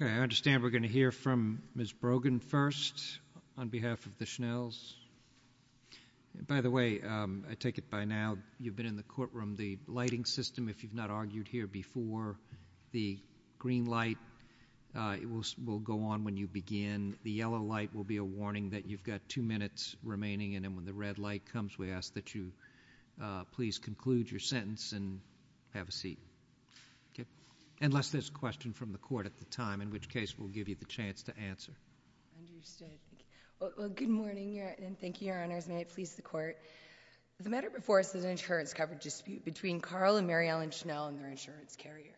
I understand we're going to hear from Ms. Brogan first, on behalf of the Schnells. By the way, I take it by now you've been in the courtroom. The lighting system, if you've not argued here before, the green light will go on when you begin. The yellow light will be a warning that you've got two minutes remaining, and then when the red light comes, we ask that you please conclude your sentence and have a seat, unless there's a question from the court at the time, in which case we'll give you the chance to answer. Understood. Well, good morning, and thank you, Your Honors, and may it please the court. The matter before us is an insurance cover dispute between Carl and Mary Ellen Schnell and their insurance carrier.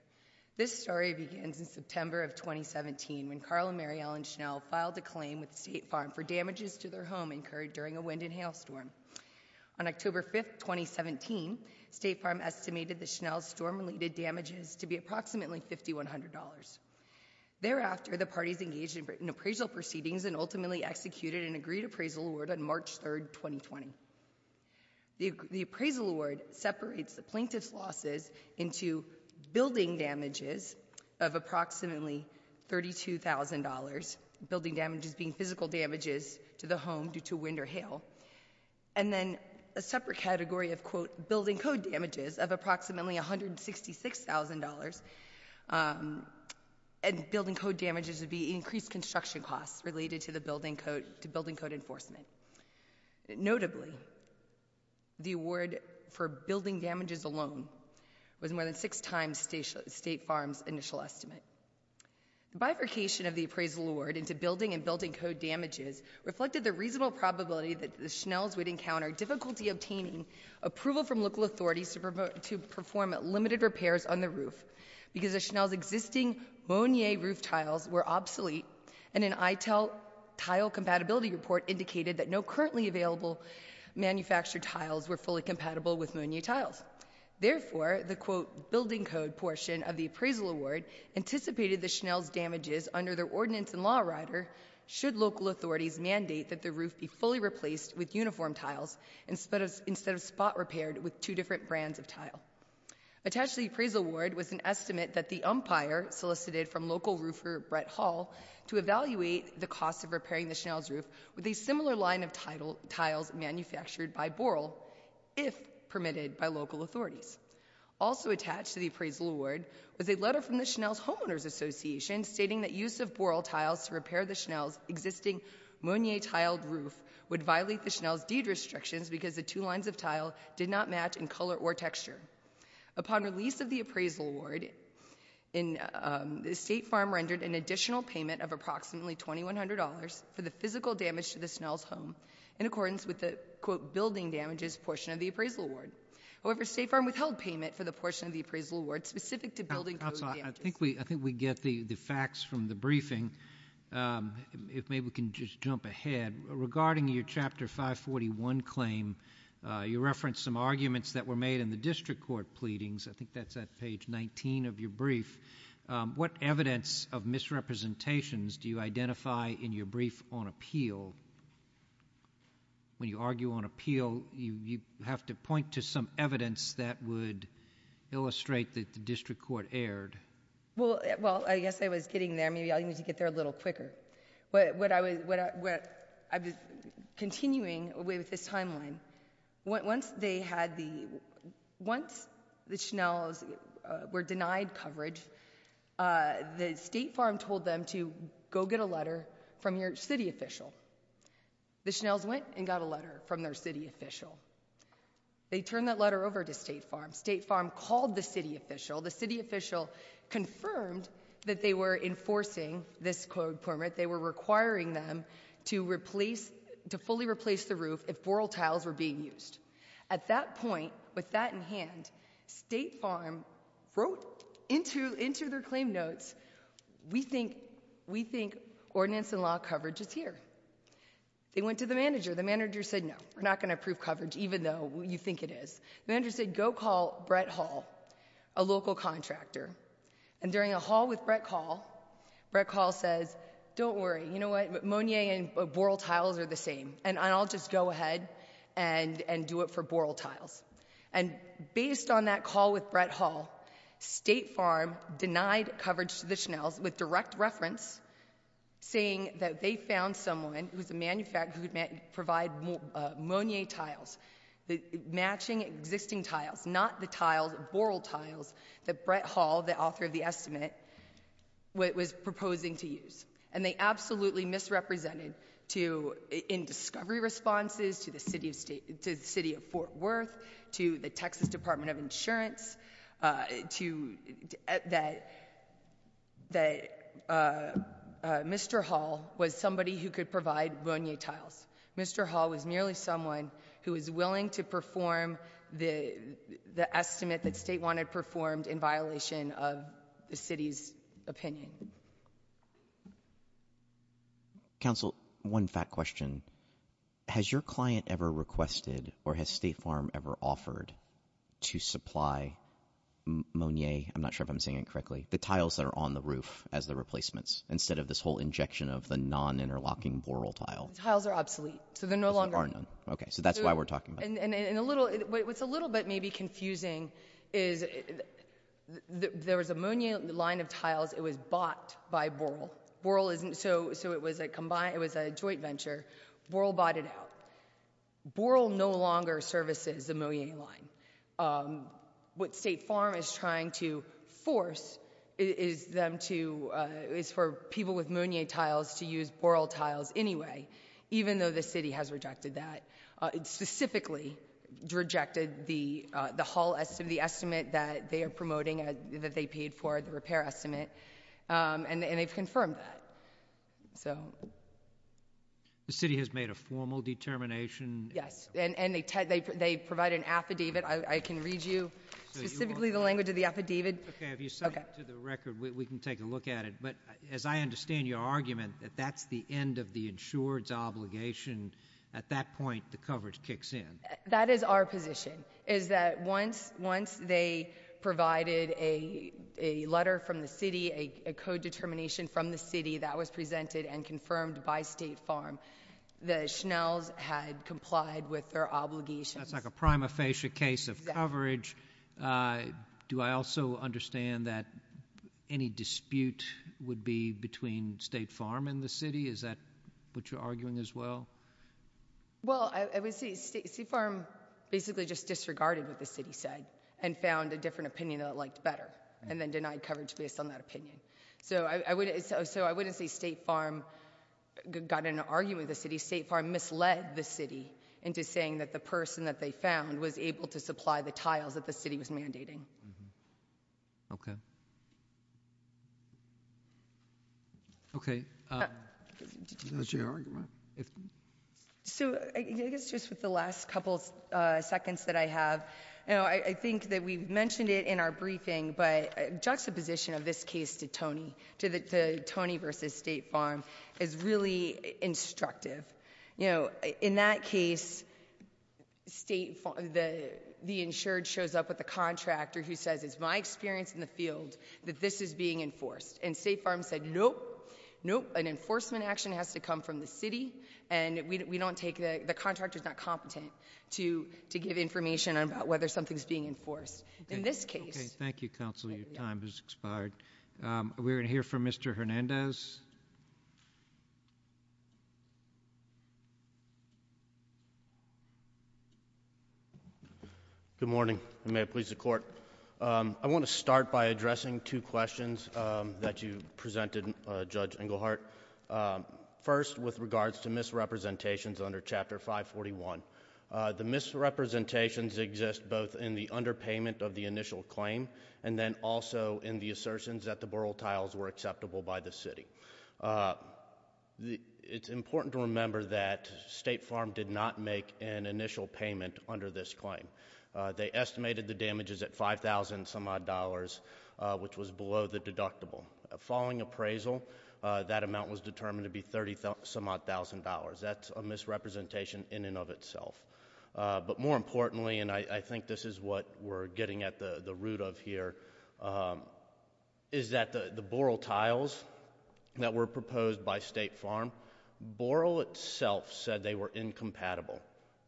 This story begins in September of 2017, when Carl and Mary Ellen Schnell filed a claim with State Farm for damages to their home incurred during a wind and hail storm. On October 5th, 2017, State Farm estimated that Schnell's storm related damages to be approximately $5,100. Thereafter the parties engaged in appraisal proceedings and ultimately executed an agreed appraisal award on March 3rd, 2020. The appraisal award separates the plaintiff's losses into building damages of approximately $32,000, building damages being physical damages to the home due to wind or hail, and then a separate category of, quote, building code damages of approximately $166,000, and building code damages would be increased construction costs related to building code enforcement. Notably, the award for building damages alone was more than six times State Farm's initial estimate. The bifurcation of the appraisal award into building and building code damages reflected the reasonable probability that the Schnell's would encounter difficulty obtaining approval from local authorities to perform limited repairs on the roof because the Schnell's existing Monier roof tiles were obsolete, and an ITIL tile compatibility report indicated that no currently available manufactured tiles were fully compatible with Monier tiles. Therefore, the, quote, building code portion of the appraisal award anticipated the Schnell's ordinance and law writer should local authorities mandate that the roof be fully replaced with uniform tiles instead of spot repaired with two different brands of tile. Attached to the appraisal award was an estimate that the umpire solicited from local roofer Brett Hall to evaluate the cost of repairing the Schnell's roof with a similar line of tiles manufactured by Boral, if permitted by local authorities. Also attached to the appraisal award was a letter from the Schnell's homeowners association stating that use of Boral tiles to repair the Schnell's existing Monier tiled roof would violate the Schnell's deed restrictions because the two lines of tile did not match in color or texture. Upon release of the appraisal award, State Farm rendered an additional payment of approximately $2,100 for the physical damage to the Schnell's home in accordance with the, quote, building damages portion of the appraisal award. However, State Farm withheld payment for the portion of the appraisal award specific to building code damages. I think we get the facts from the briefing. If maybe we can just jump ahead. Regarding your chapter 541 claim, you referenced some arguments that were made in the district court pleadings. I think that's at page 19 of your brief. What evidence of misrepresentations do you identify in your brief on appeal? When you argue on appeal, you have to point to some evidence that would illustrate that the district court erred. Well, I guess I was getting there. Maybe I'll need to get there a little quicker. I was continuing with this timeline. Once the Schnell's were denied coverage, the State Farm told them to go get a letter from your city official. The Schnell's went and got a letter from their city official. They turned that letter over to State Farm. State Farm called the city official. The city official confirmed that they were enforcing this code permit. They were requiring them to fully replace the roof if boral tiles were being used. At that point, with that in hand, State Farm wrote into their claim notes, we think ordinance and law coverage is here. They went to the manager. The manager said, no. We're not going to approve coverage even though you think it is. The manager said, go call Brett Hall, a local contractor. During a hall with Brett Hall, Brett Hall says, don't worry. You know what? Monier and boral tiles are the same. I'll just go ahead and do it for boral tiles. Based on that call with Brett Hall, State Farm denied coverage to the Schnell's with direct reference saying that they found someone who's a manufacturer who could provide Monier tiles, matching existing tiles, not the tiles, boral tiles that Brett Hall, the author of the estimate, was proposing to use. They absolutely misrepresented in discovery responses to the city of Fort Worth, to the Texas Department of Insurance, that Mr. Hall was somebody who could provide Monier tiles. Mr. Hall was merely someone who was willing to perform the estimate that State Farm had performed in violation of the city's opinion. Council, one fact question. Has your client ever requested or has State Farm ever offered to supply Monier, I'm not sure if I'm saying it correctly, the tiles that are on the roof as the replacements instead of this whole injection of the non-interlocking boral tile? Tiles are obsolete. So they're no longer... Because there are none. Okay, so that's why we're talking about it. What's a little bit maybe confusing is there was a Monier line of tiles. It was bought by boral. It was a joint venture. Boral bought it out. Boral no longer services the Monier line. What State Farm is trying to force is for people with Monier tiles to use boral tiles anyway, even though the city has rejected that. It specifically rejected the estimate that they are promoting, that they paid for, the repair estimate, and they've confirmed that. The city has made a formal determination... Yes, and they provide an affidavit. I can read you specifically the language of the affidavit. Okay, if you send it to the record, we can take a look at it. As I understand your argument, that that's the end of the insured's obligation. At that point, the coverage kicks in. That is our position, is that once they provided a letter from the city, a code determination from the city that was presented and confirmed by State Farm, the Schnells had complied with their obligations. That's like a prima facie case of coverage. Do I also understand that any dispute would be between State Farm and the city? Is that what you're arguing as well? Well, I would say State Farm basically just disregarded what the city said and found a different opinion that it liked better, and then denied coverage based on that opinion. I wouldn't say State Farm got in an argument with the city. State Farm misled the city into saying that the person that they found was able to supply the tiles that the city was mandating. Okay. Okay. That's your argument. So, I guess just with the last couple seconds that I have, I think that we've mentioned it in our briefing, but juxtaposition of this case to Tony, to Tony versus State Farm is really instructive. You know, in that case, the insured shows up with a contractor who says, it's my experience in the field that this is being enforced, and State Farm said, nope, nope, an enforcement action has to come from the city, and the contractor's not competent to give information about whether something's being enforced. In this case... Okay. Thank you, counsel. Your time has expired. We're going to hear from Mr. Hernandez. Good morning, and may it please the Court. I want to start by addressing two questions that you presented, Judge Englehart. First, with regards to misrepresentations under Chapter 541. The misrepresentations exist both in the underpayment of the initial claim, and then also in the assertions that the borough tiles were acceptable by the city. It's important to remember that State Farm did not make an initial payment under this claim. They estimated the damages at $5,000 some odd dollars, which was below the deductible. Following appraisal, that amount was determined to be $30 some odd thousand dollars. That's a misrepresentation in and of itself. But more importantly, and I think this is what we're getting at the root of here, is that the borough tiles that were proposed by State Farm, borough itself said they were incompatible.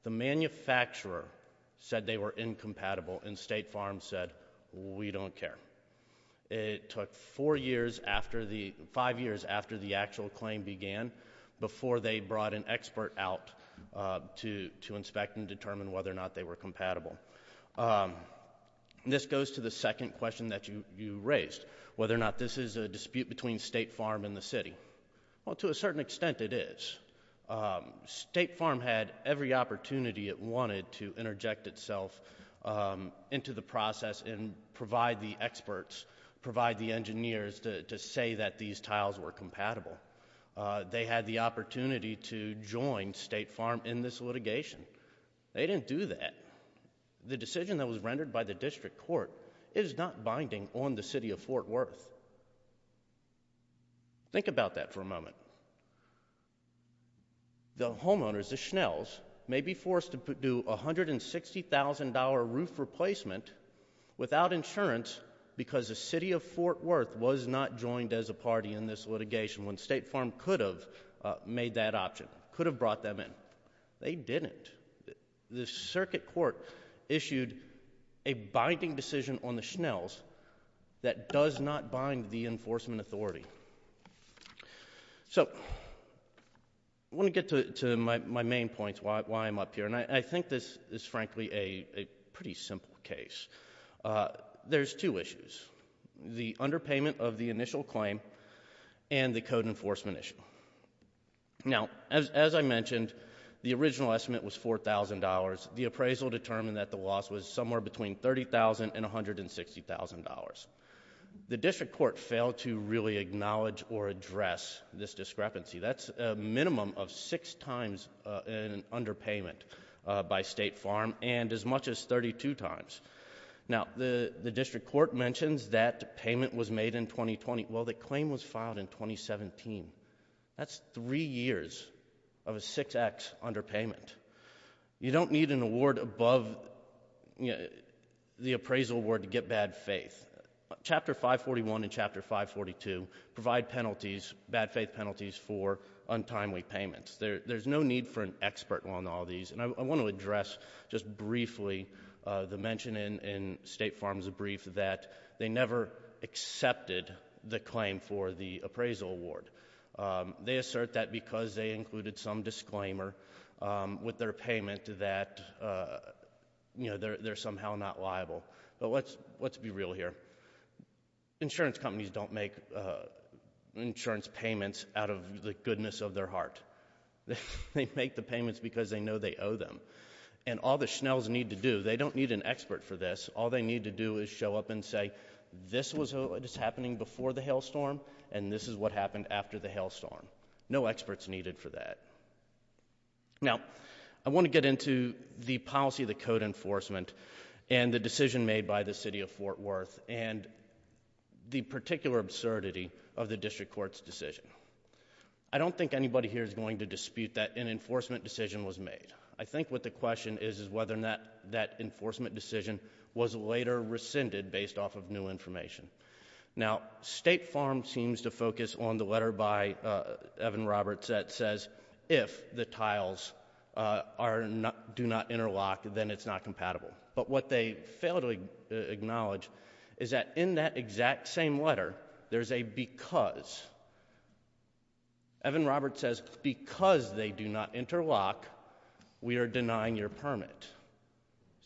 The manufacturer said they were incompatible, and State Farm said, we don't care. It took five years after the actual claim began before they brought an expert out to inspect and determine whether or not they were compatible. This goes to the second question that you raised, whether or not this is a dispute between State Farm and the city. To a certain extent, it is. State Farm had every opportunity it wanted to interject itself into the process and provide the experts, provide the engineers to say that these tiles were compatible. They had the opportunity to join State Farm in this litigation. They didn't do that. The decision that was rendered by the district court is not binding on the city of Fort Worth. Think about that for a moment. Now, the homeowners, the Schnells, may be forced to do a $160,000 roof replacement without insurance because the city of Fort Worth was not joined as a party in this litigation when State Farm could have made that option, could have brought them in. They didn't. The circuit court issued a binding decision on the Schnells that does not bind the enforcement authority. So I want to get to my main points, why I'm up here, and I think this is frankly a pretty simple case. There's two issues, the underpayment of the initial claim and the code enforcement issue. Now, as I mentioned, the original estimate was $4,000. The appraisal determined that the loss was somewhere between $30,000 and $160,000. The district court failed to really acknowledge or address this discrepancy. That's a minimum of six times an underpayment by State Farm and as much as 32 times. Now, the district court mentions that payment was made in 2020. Well, the claim was filed in 2017. That's three years of a 6X underpayment. You don't need an award above the appraisal award to get bad faith. Chapter 541 and Chapter 542 provide penalties, bad faith penalties, for untimely payments. There's no need for an expert on all these, and I want to address just briefly the mention in State Farm's brief that they never accepted the claim for the appraisal award. They assert that because they included some disclaimer with their payment that they're somehow not liable. But let's be real here. Insurance companies don't make insurance payments out of the goodness of their heart. They make the payments because they know they owe them. And all the Schnells need to do, they don't need an expert for this, all they need to do is show up and this is what happened after the hailstorm. No experts needed for that. Now, I want to get into the policy of the code enforcement and the decision made by the city of Fort Worth and the particular absurdity of the district court's decision. I don't think anybody here is going to dispute that an enforcement decision was made. I think what the question is is whether or not that enforcement decision was later rescinded based off of new information. Now, State Farm seems to focus on the letter by Evan Roberts that says, if the tiles do not interlock, then it's not compatible. But what they failed to acknowledge is that in that exact same letter, there's a because. Evan Roberts says, because they do not interlock, we are denying your permit.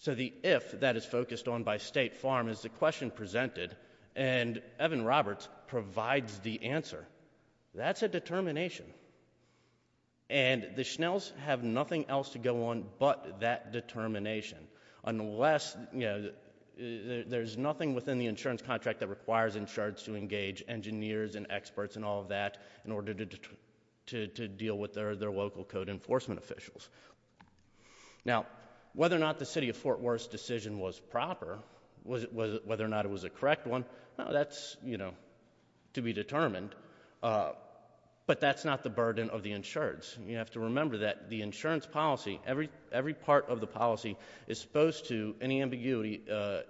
So the if that is focused on by State Farm is the question presented and Evan Roberts provides the answer. That's a determination. And the Schnells have nothing else to go on but that determination. Unless, there's nothing within the insurance contract that requires insurance to engage engineers and experts and all of that in order to deal with their local code enforcement officials. Now, whether or not the city of Fort Worth's decision was proper, whether or not it was a correct one, that's to be determined, but that's not the burden of the insureds. You have to remember that the insurance policy, every part of the policy is supposed to, any ambiguity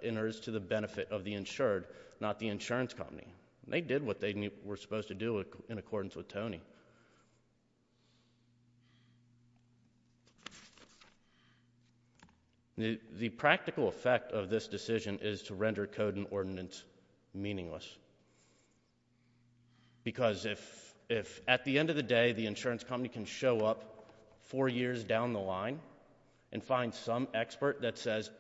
enters to the benefit of the insured, not the insurance company. They did what they were supposed to do in accordance with Tony. The practical effect of this decision is to render code and ordinance meaningless. Because if at the end of the day, the insurance company can show up four years down the line and find some expert that says,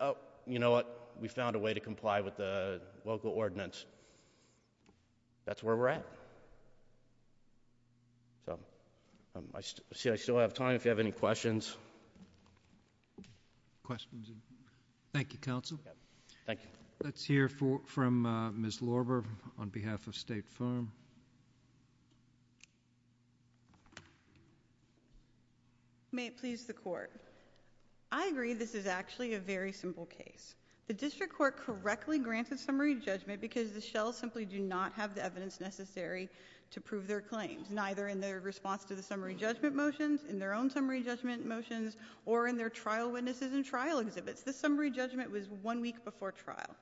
you know what, we found a way to comply with the local ordinance. That's where we're at. So, I see I still have time if you have any questions. Questions? Thank you, counsel. Thank you. Let's hear from Ms. Lorber on behalf of State Farm. May it please the court. I agree this is actually a very simple case. The district court correctly granted summary judgment because the Schnells simply do not have the evidence necessary to prove their claims, neither in their response to the summary judgment motions, in their own summary judgment motions, or in their trial witnesses and trial exhibits. The summary judgment was one week before trial.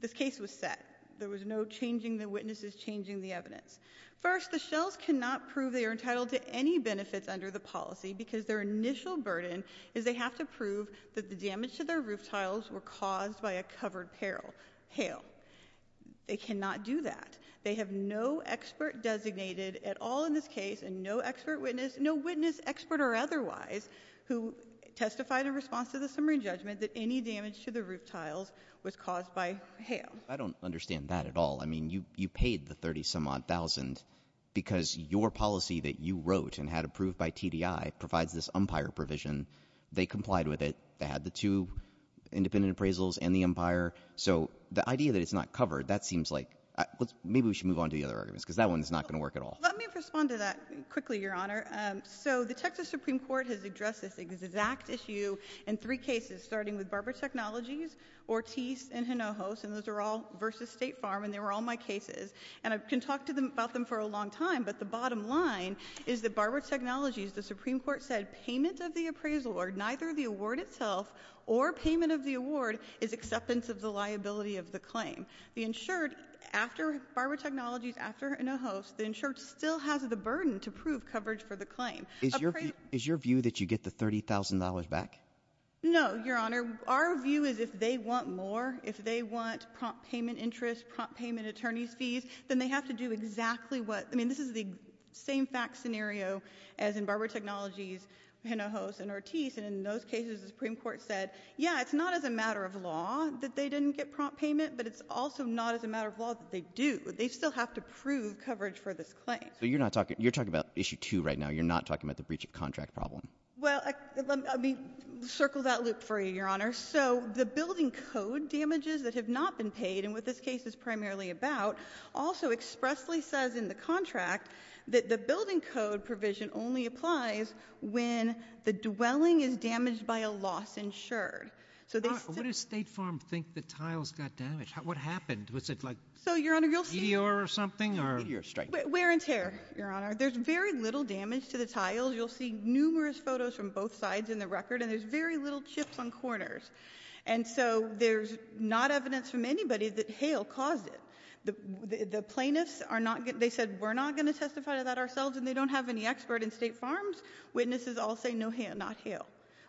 This case was set. There was no changing the witnesses, changing the evidence. First, the Schnells cannot prove they are entitled to any benefits under the policy because their initial burden is they have to prove that the damage to their roof tiles were caused by a covered peril, hail. They cannot do that. They have no expert designated at all in this case, and no expert witness, no witness expert or otherwise, who testified in response to the summary judgment that any damage to the roof tiles was caused by hail. I don't understand that at all. I mean, you paid the 30 some odd thousand because your policy that you wrote and had approved by TDI provides this umpire provision. They complied with it. They had the two independent appraisals and the umpire. So the idea that it's not covered, that seems like, maybe we should move on to the other arguments, because that one's not going to work at all. Let me respond to that quickly, Your Honor. So the Texas Supreme Court has addressed this exact issue in three cases, starting with Barber Technologies, Ortiz, and Hinojos, and those are all versus State Farm, and they were all my cases. And I can talk about them for a long time, but the bottom line is that Barber Technologies, the Supreme Court said payment of the appraisal or neither the award itself or payment of the award is acceptance of the liability of the claim. The insured, after Barber Technologies, after Hinojos, the insured still has the burden to prove coverage for the claim. Is your view that you get the $30,000 back? No, Your Honor. Our view is if they want more, if they want prompt payment interest, prompt payment attorney's fees, then they have to do exactly what, I mean, this is the same fact scenario as in Barber Technologies, Hinojos, and Ortiz. And in those cases, the Supreme Court said, yeah, it's not as a matter of law that they didn't get prompt payment, but it's also not as a matter of law that they do. They still have to prove coverage for this claim. So you're not talking, you're talking about issue two right now, you're not talking about the breach of contract problem. Well, let me circle that loop for you, Your Honor. So the building code damages that have not been paid, and what this case is primarily about, also expressly says in the contract that the building code provision only applies when the dwelling is damaged by a loss insured. So they- What does State Farm think the tiles got damaged? What happened? Was it like- So, Your Honor, you'll see- Meteor or something, or- Meteor strike. Wear and tear, Your Honor. There's very little damage to the tiles. You'll see numerous photos from both sides in the record, and there's very little chips on corners. And so there's not evidence from anybody that hail caused it. The plaintiffs are not, they said, we're not going to testify to that ourselves, and they don't have any expert in State Farms. Witnesses all say, no hail, not hail,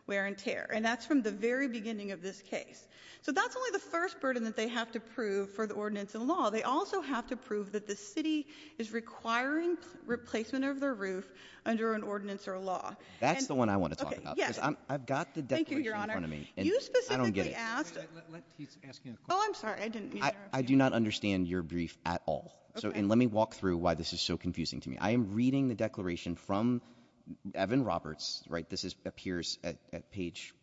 wear and tear, and that's from the very beginning of this case. So that's only the first burden that they have to prove for the ordinance and law. They also have to prove that the city is requiring replacement of the roof under an ordinance or a law. That's the one I want to talk about, because I've got the declaration in front of me, and I don't get it. Thank you, Your Honor. You specifically asked- He's asking a question. I'm sorry, I didn't mean to interrupt you. I do not understand your brief at all, and let me walk through why this is so confusing to me. I am reading the declaration from Evan Roberts, right? This appears at page,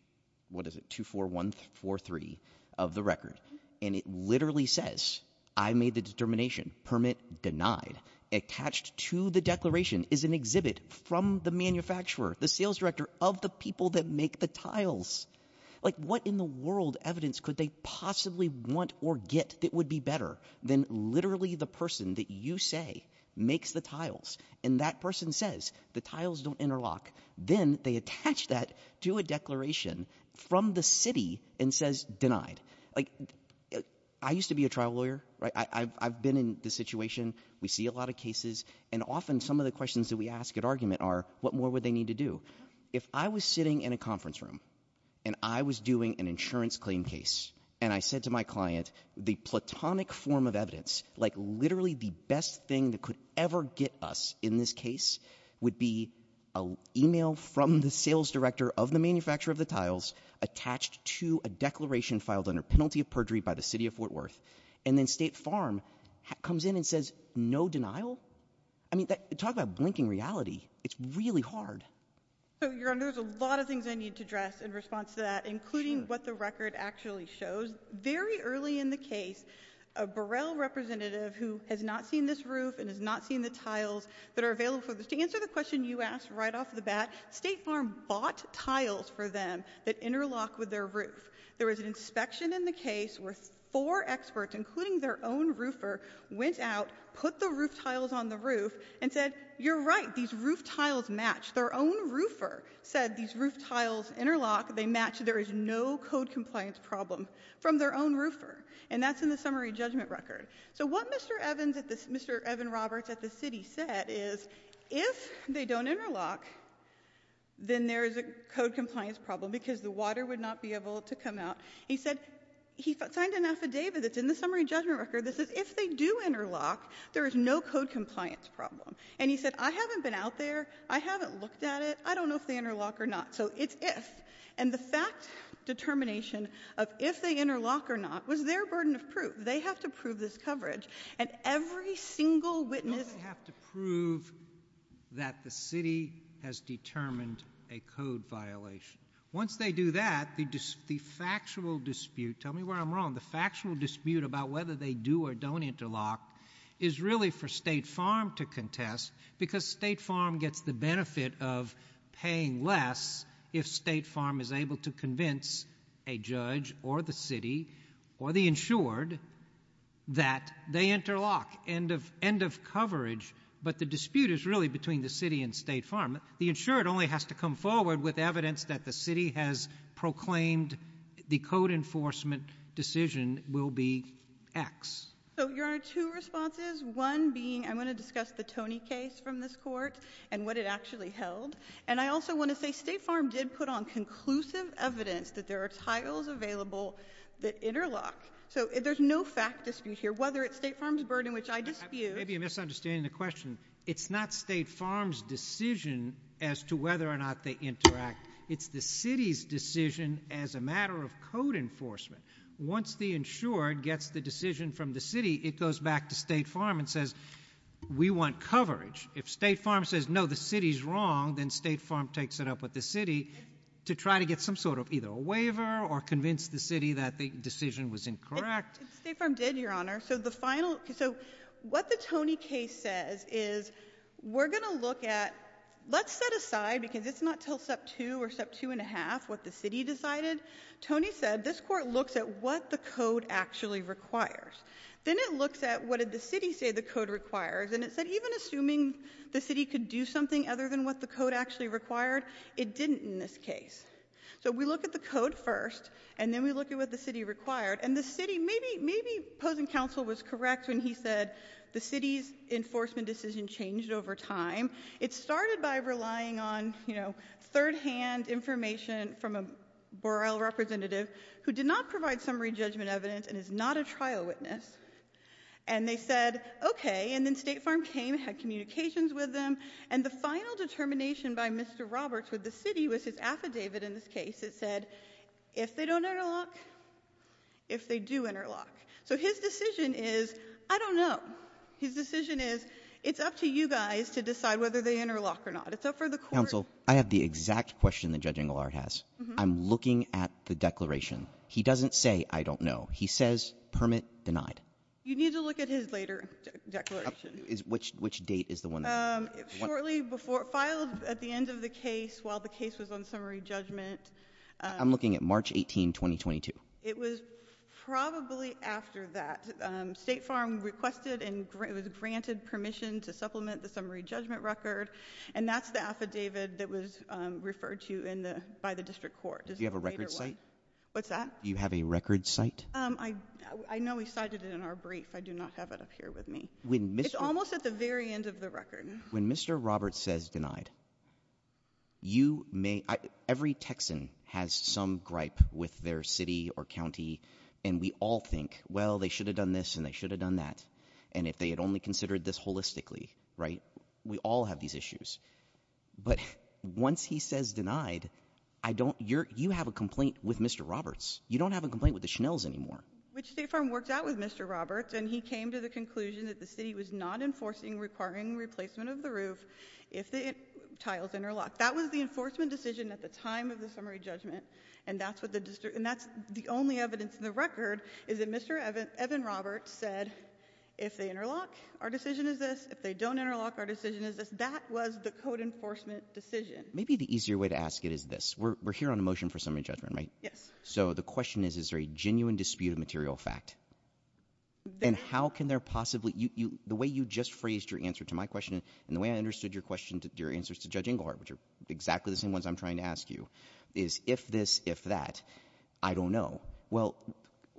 what is it, 24143 of the record. And it literally says, I made the determination, permit denied. Attached to the declaration is an exhibit from the manufacturer, the sales director, of the people that make the tiles. Like, what in the world evidence could they possibly want or get that would be better than literally the person that you say makes the tiles? And that person says, the tiles don't interlock. Then they attach that to a declaration from the city and says, denied. Like, I used to be a trial lawyer, right, I've been in this situation. We see a lot of cases, and often some of the questions that we ask at argument are, what more would they need to do? If I was sitting in a conference room, and I was doing an insurance claim case, and I said to my client, the platonic form of evidence, like literally the best thing that could ever get us in this case, would be an email from the sales director of the manufacturer of the tiles, attached to a declaration filed under penalty of perjury by the city of Fort Worth. And then State Farm comes in and says, no denial? I mean, talk about blinking reality. It's really hard. So, your honor, there's a lot of things I need to address in response to that, including what the record actually shows. Very early in the case, a Burrell representative who has not seen this roof and has not seen the tiles that are available for this, to answer the question you asked right off the bat, State Farm bought tiles for them that interlock with their roof. There was an inspection in the case where four experts, including their own roofer, went out, put the roof tiles on the roof, and said, you're right, these roof tiles match. Their own roofer said these roof tiles interlock, they match, there is no code compliance problem from their own roofer, and that's in the summary judgment record. So what Mr. Evans, Mr. Evan Roberts at the city said is, if they don't interlock, then there is a code compliance problem because the water would not be able to come out. He said, he signed an affidavit that's in the summary judgment record that says if they do interlock, there is no code compliance problem. And he said, I haven't been out there, I haven't looked at it, I don't know if they interlock or not. So it's if. And the fact determination of if they interlock or not was their burden of proof. They have to prove this coverage. And every single witness- They have to prove that the city has determined a code violation. Once they do that, the factual dispute, tell me where I'm wrong, the factual dispute about whether they do or don't interlock is really for State Farm to contest because State Farm gets the benefit of paying less if State Farm is able to convince a judge or the city or the insured that they interlock, end of coverage. But the dispute is really between the city and State Farm. The insured only has to come forward with evidence that the city has proclaimed the code enforcement decision will be X. So, Your Honor, two responses, one being I want to discuss the Tony case from this court and what it actually held. And I also want to say State Farm did put on conclusive evidence that there are titles available that interlock. So there's no fact dispute here, whether it's State Farm's burden, which I dispute. Maybe you're misunderstanding the question. It's not State Farm's decision as to whether or not they interact. It's the city's decision as a matter of code enforcement. Once the insured gets the decision from the city, it goes back to State Farm and says, we want coverage. If State Farm says, no, the city's wrong, then State Farm takes it up with the city to try to get some sort of either a waiver or convince the city that the decision was incorrect. State Farm did, Your Honor. So the final, so what the Tony case says is we're going to look at, let's set aside because it's not until step two or step two and a half what the city decided. Tony said, this court looks at what the code actually requires. Then it looks at what did the city say the code requires. And it said even assuming the city could do something other than what the code actually required, it didn't in this case. So we look at the code first, and then we look at what the city required. And the city, maybe Posen Counsel was correct when he said the city's enforcement decision changed over time. It started by relying on third hand information from a borough representative who did not provide summary judgment evidence and is not a trial witness. And they said, okay. And then State Farm came, had communications with them. And the final determination by Mr. Roberts with the city was his affidavit in this case. It said, if they don't interlock, if they do interlock. So his decision is, I don't know. His decision is, it's up to you guys to decide whether they interlock or not. It's up for the court. Counsel, I have the exact question that Judge Engelhardt has. I'm looking at the declaration. He doesn't say, I don't know. He says, permit denied. You need to look at his later declaration. Which date is the one? Shortly before, filed at the end of the case while the case was on summary judgment. I'm looking at March 18, 2022. It was probably after that. State Farm requested and was granted permission to supplement the summary judgment record. And that's the affidavit that was referred to by the district court. Do you have a record site? What's that? Do you have a record site? I know we cited it in our brief. I do not have it up here with me. It's almost at the very end of the record. When Mr. Roberts says denied, every Texan has some gripe with their city or county. And we all think, well, they should have done this and they should have done that. And if they had only considered this holistically, right? We all have these issues. But once he says denied, you have a complaint with Mr. Roberts. You don't have a complaint with the Schnells anymore. Which State Farm worked out with Mr. Roberts and he came to the conclusion that the city was not enforcing requiring replacement of the roof if the tiles interlock. That was the enforcement decision at the time of the summary judgment. And that's the only evidence in the record is that Mr. Evan Roberts said, if they interlock, our decision is this. If they don't interlock, our decision is this. That was the code enforcement decision. Maybe the easier way to ask it is this. We're here on a motion for summary judgment, right? Yes. So the question is, is there a genuine dispute of material fact? And how can there possibly, the way you just phrased your answer to my question and the way I understood your answers to Judge Inglehart, which are exactly the same ones I'm trying to ask you, is if this, if that, I don't know. Well,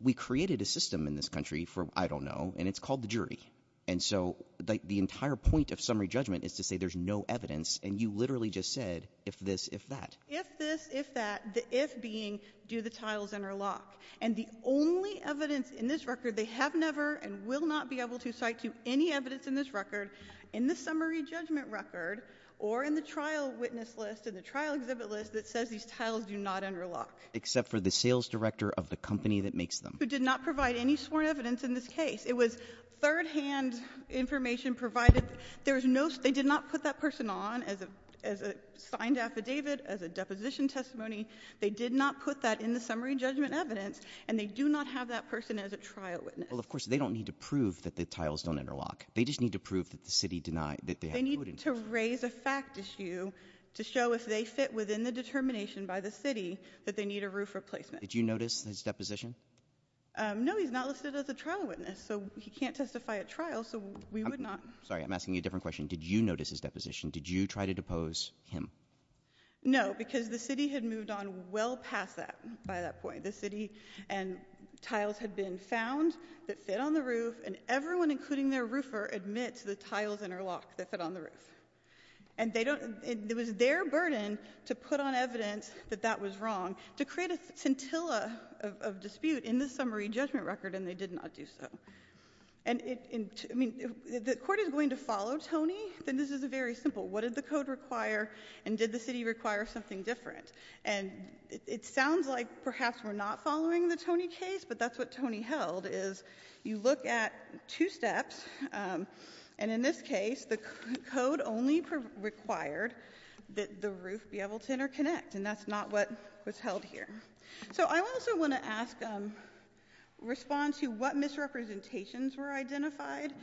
we created a system in this country for I don't know, and it's called the jury. And so the entire point of summary judgment is to say there's no evidence. And you literally just said, if this, if that. If this, if that, the if being, do the tiles interlock? And the only evidence in this record, they have never and will not be able to cite to any evidence in this record, in the summary judgment record, or in the trial witness list, in the trial exhibit list, that says these tiles do not interlock. Except for the sales director of the company that makes them. Who did not provide any sworn evidence in this case. It was third hand information provided. There's no, they did not put that person on as a signed affidavit, as a deposition testimony. They did not put that in the summary judgment evidence. And they do not have that person as a trial witness. Well, of course, they don't need to prove that the tiles don't interlock. They just need to prove that the city denied, that they have- They need to raise a fact issue to show if they fit within the determination by the city, that they need a roof replacement. Did you notice his deposition? No, he's not listed as a trial witness, so he can't testify at trial, so we would not- Sorry, I'm asking you a different question. Did you notice his deposition? Did you try to depose him? No, because the city had moved on well past that, by that point. The city and tiles had been found that fit on the roof, and everyone, including their roofer, admit to the tiles interlock that fit on the roof. And it was their burden to put on evidence that that was wrong, to create a scintilla of dispute in the summary judgment record, and they did not do so. And if the court is going to follow Tony, then this is very simple. What did the code require, and did the city require something different? And it sounds like perhaps we're not following the Tony case, but that's what Tony held, is you look at two steps, and in this case, the code only required that the roof be able to interconnect. And that's not what was held here. So I also want to ask, respond to what misrepresentations were identified.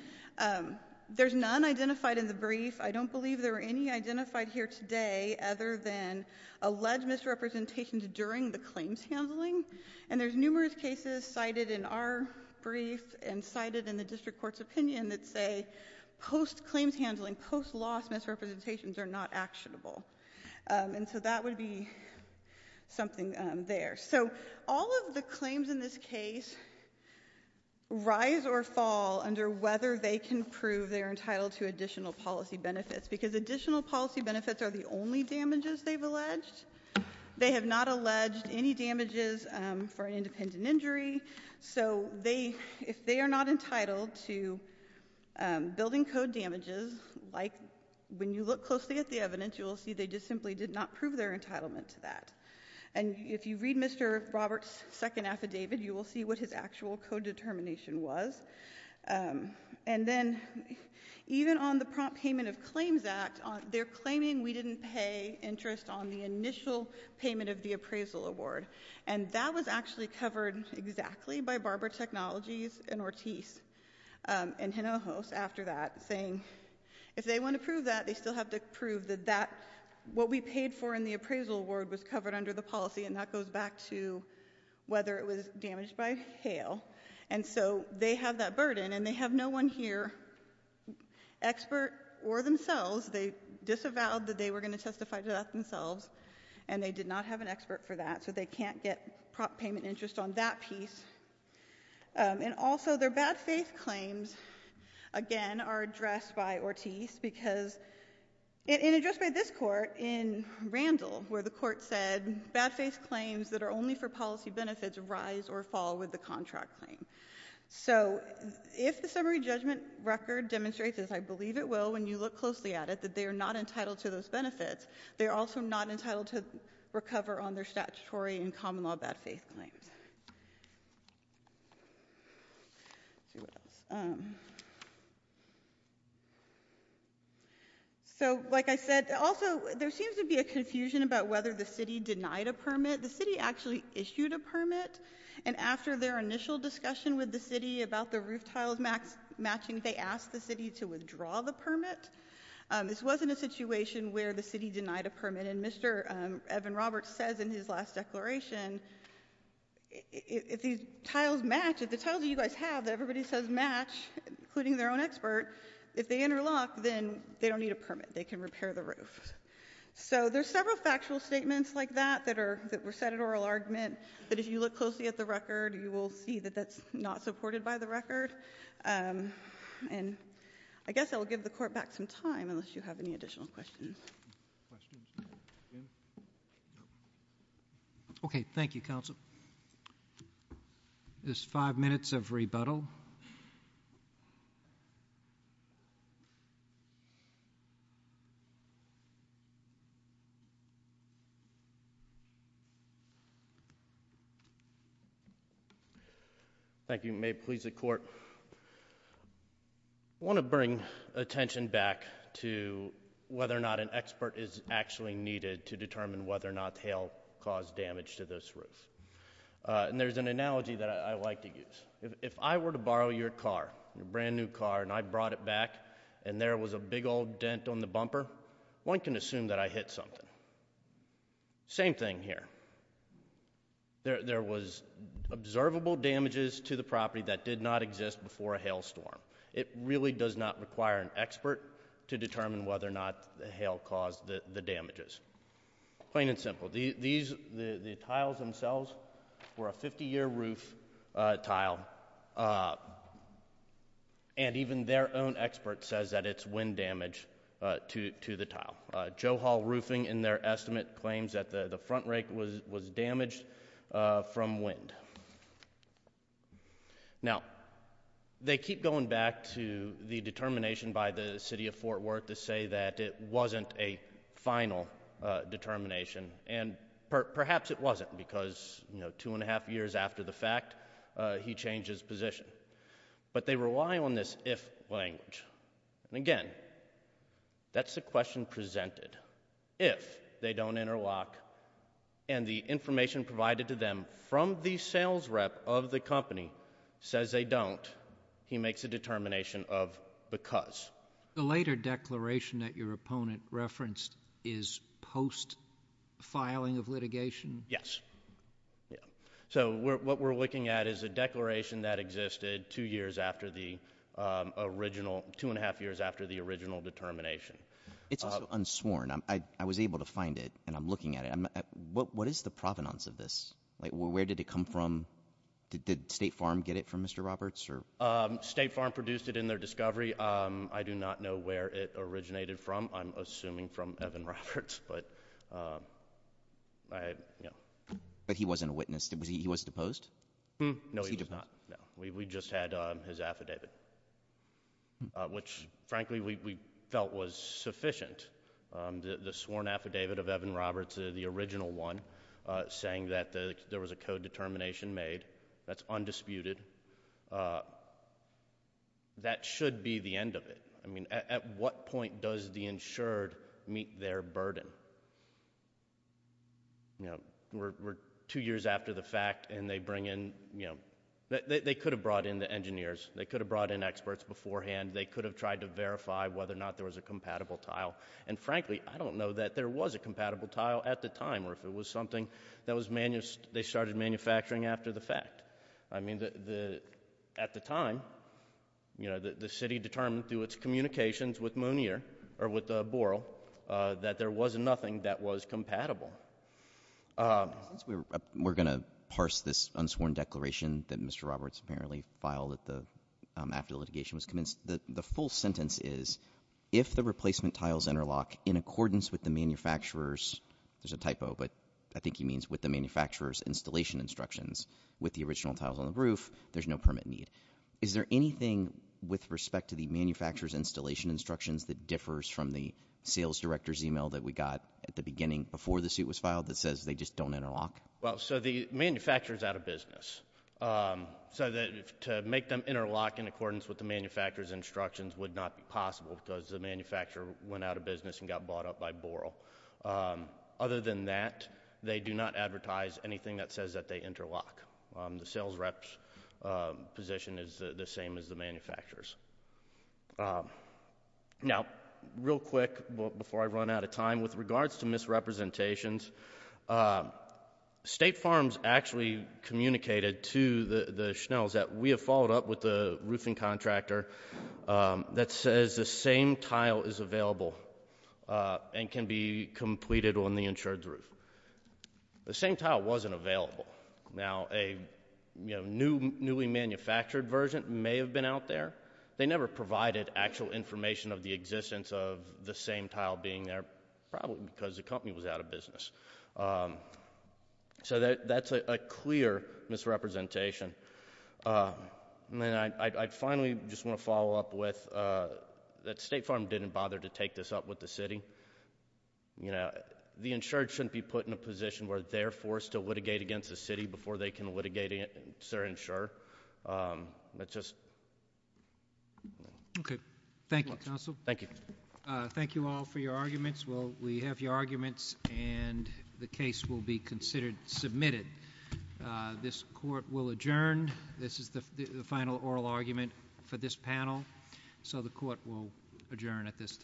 There's none identified in the brief. I don't believe there were any identified here today other than alleged misrepresentations during the claims handling. And there's numerous cases cited in our brief and cited in the district court's opinion that say post-claims handling, post-loss misrepresentations are not actionable. And so that would be something there. So all of the claims in this case rise or fall under whether they can prove they're entitled to additional policy benefits. Because additional policy benefits are the only damages they've alleged. They have not alleged any damages for an independent injury. So if they are not entitled to building code damages, like when you look closely at the evidence, you'll see they just simply did not prove their entitlement to that. And if you read Mr. Robert's second affidavit, you will see what his actual code determination was. And then, even on the prompt payment of claims act, they're claiming we didn't pay interest on the initial payment of the appraisal award. And that was actually covered exactly by Barbara Technologies and Ortiz. And Hinojos, after that, saying if they want to prove that, they still have to prove that what we paid for in the appraisal award was covered under the policy, and that goes back to whether it was damaged by hail. And so they have that burden, and they have no one here, expert or themselves. They disavowed that they were going to testify to that themselves. And they did not have an expert for that, so they can't get prompt payment interest on that piece. And also, their bad faith claims, again, are addressed by Ortiz. Because, and addressed by this court in Randall, where the court said, bad faith claims that are only for policy benefits rise or fall with the contract. So, if the summary judgment record demonstrates, as I believe it will, when you look closely at it, that they are not entitled to those benefits. They're also not entitled to recover on their statutory and common law bad faith claims. Let's see, what else? So, like I said, also, there seems to be a confusion about whether the city denied a permit. The city actually issued a permit, and after their initial discussion with the city about the roof tiles matching, they asked the city to withdraw the permit. This wasn't a situation where the city denied a permit, and Mr. Evan Roberts says in his last declaration, if these tiles match, if the tiles that you guys have that everybody says match, including their own expert, if they interlock, then they don't need a permit, they can repair the roof. So, there's several factual statements like that that were set at oral argument, that if you look closely at the record, you will see that that's not supported by the record. And I guess I'll give the court back some time, unless you have any additional questions. Questions? Okay, thank you, counsel. There's five minutes of rebuttal. Thank you, may it please the court. I want to bring attention back to whether or not an expert is actually needed to determine whether or not hail caused damage to this roof. And there's an analogy that I like to use. If I were to borrow your car, your brand new car, and I brought it back, and there was a big old dent on the bumper, one can assume that I hit something. Same thing here. There was observable damages to the property that did not exist before a hail storm. It really does not require an expert to determine whether or not the hail caused the damages. Plain and simple, the tiles themselves were a 50 year roof tile. And even their own expert says that it's wind damage to the tile. Joe Hall Roofing, in their estimate, claims that the front rake was damaged from wind. Now, they keep going back to the determination by the city of Fort Worth to say that it wasn't a final determination. And perhaps it wasn't, because two and a half years after the fact, he changed his position. But they rely on this if language. And again, that's the question presented. If they don't interlock, and the information provided to them from the sales rep of the company says they don't. He makes a determination of because. The later declaration that your opponent referenced is post-filing of litigation? Yes, yeah. So, what we're looking at is a declaration that existed two and a half years after the original determination. It's unsworn. I was able to find it, and I'm looking at it. What is the provenance of this? Where did it come from? Did State Farm get it from Mr. Roberts? State Farm produced it in their discovery. I do not know where it originated from. I'm assuming from Evan Roberts, but yeah. But he wasn't a witness, he was deposed? No, he was not, no. We just had his affidavit, which frankly we felt was sufficient. The sworn affidavit of Evan Roberts, the original one, saying that there was a co-determination made, that's undisputed. That should be the end of it. I mean, at what point does the insured meet their burden? We're two years after the fact, and they bring in, they could have brought in the engineers. They could have brought in experts beforehand. They could have tried to verify whether or not there was a compatible tile. And frankly, I don't know that there was a compatible tile at the time, or if it was something that they started manufacturing after the fact. I mean, at the time, the city determined through its communications with Mooneer, or with Borel, that there was nothing that was compatible. Since we're going to parse this unsworn declaration that Mr. Roberts apparently filed after litigation was commenced, the full sentence is, if the replacement tiles interlock in accordance with the manufacturer's, there's a typo, but I think he means with the manufacturer's installation instructions, with the original tiles on the roof, there's no permit need. Is there anything with respect to the manufacturer's installation instructions that differs from the sales director's email that we got at the beginning before the suit was filed that says they just don't interlock? Well, so the manufacturer's out of business. So to make them interlock in accordance with the manufacturer's instructions would not be possible because the manufacturer went out of business and got bought up by Borel. Other than that, they do not advertise anything that says that they interlock. The sales rep's position is the same as the manufacturer's. Now, real quick, before I run out of time, with regards to misrepresentations, state farms actually communicated to the Schnells that we have followed up with the roofing contractor that says the same tile is available and can be completed on the insured's roof. The same tile wasn't available. Now, a newly manufactured version may have been out there. They never provided actual information of the existence of the same tile being there, probably because the company was out of business. So that's a clear misrepresentation. And then I finally just want to follow up with that State Farm didn't bother to take this up with the city. The insured shouldn't be put in a position where they're forced to litigate against the city before they can litigate against their insurer. Let's just- Okay, thank you, Counsel. Thank you. Thank you all for your arguments. Well, we have your arguments and the case will be considered submitted. This court will adjourn. This is the final oral argument for this panel. So the court will adjourn at this time.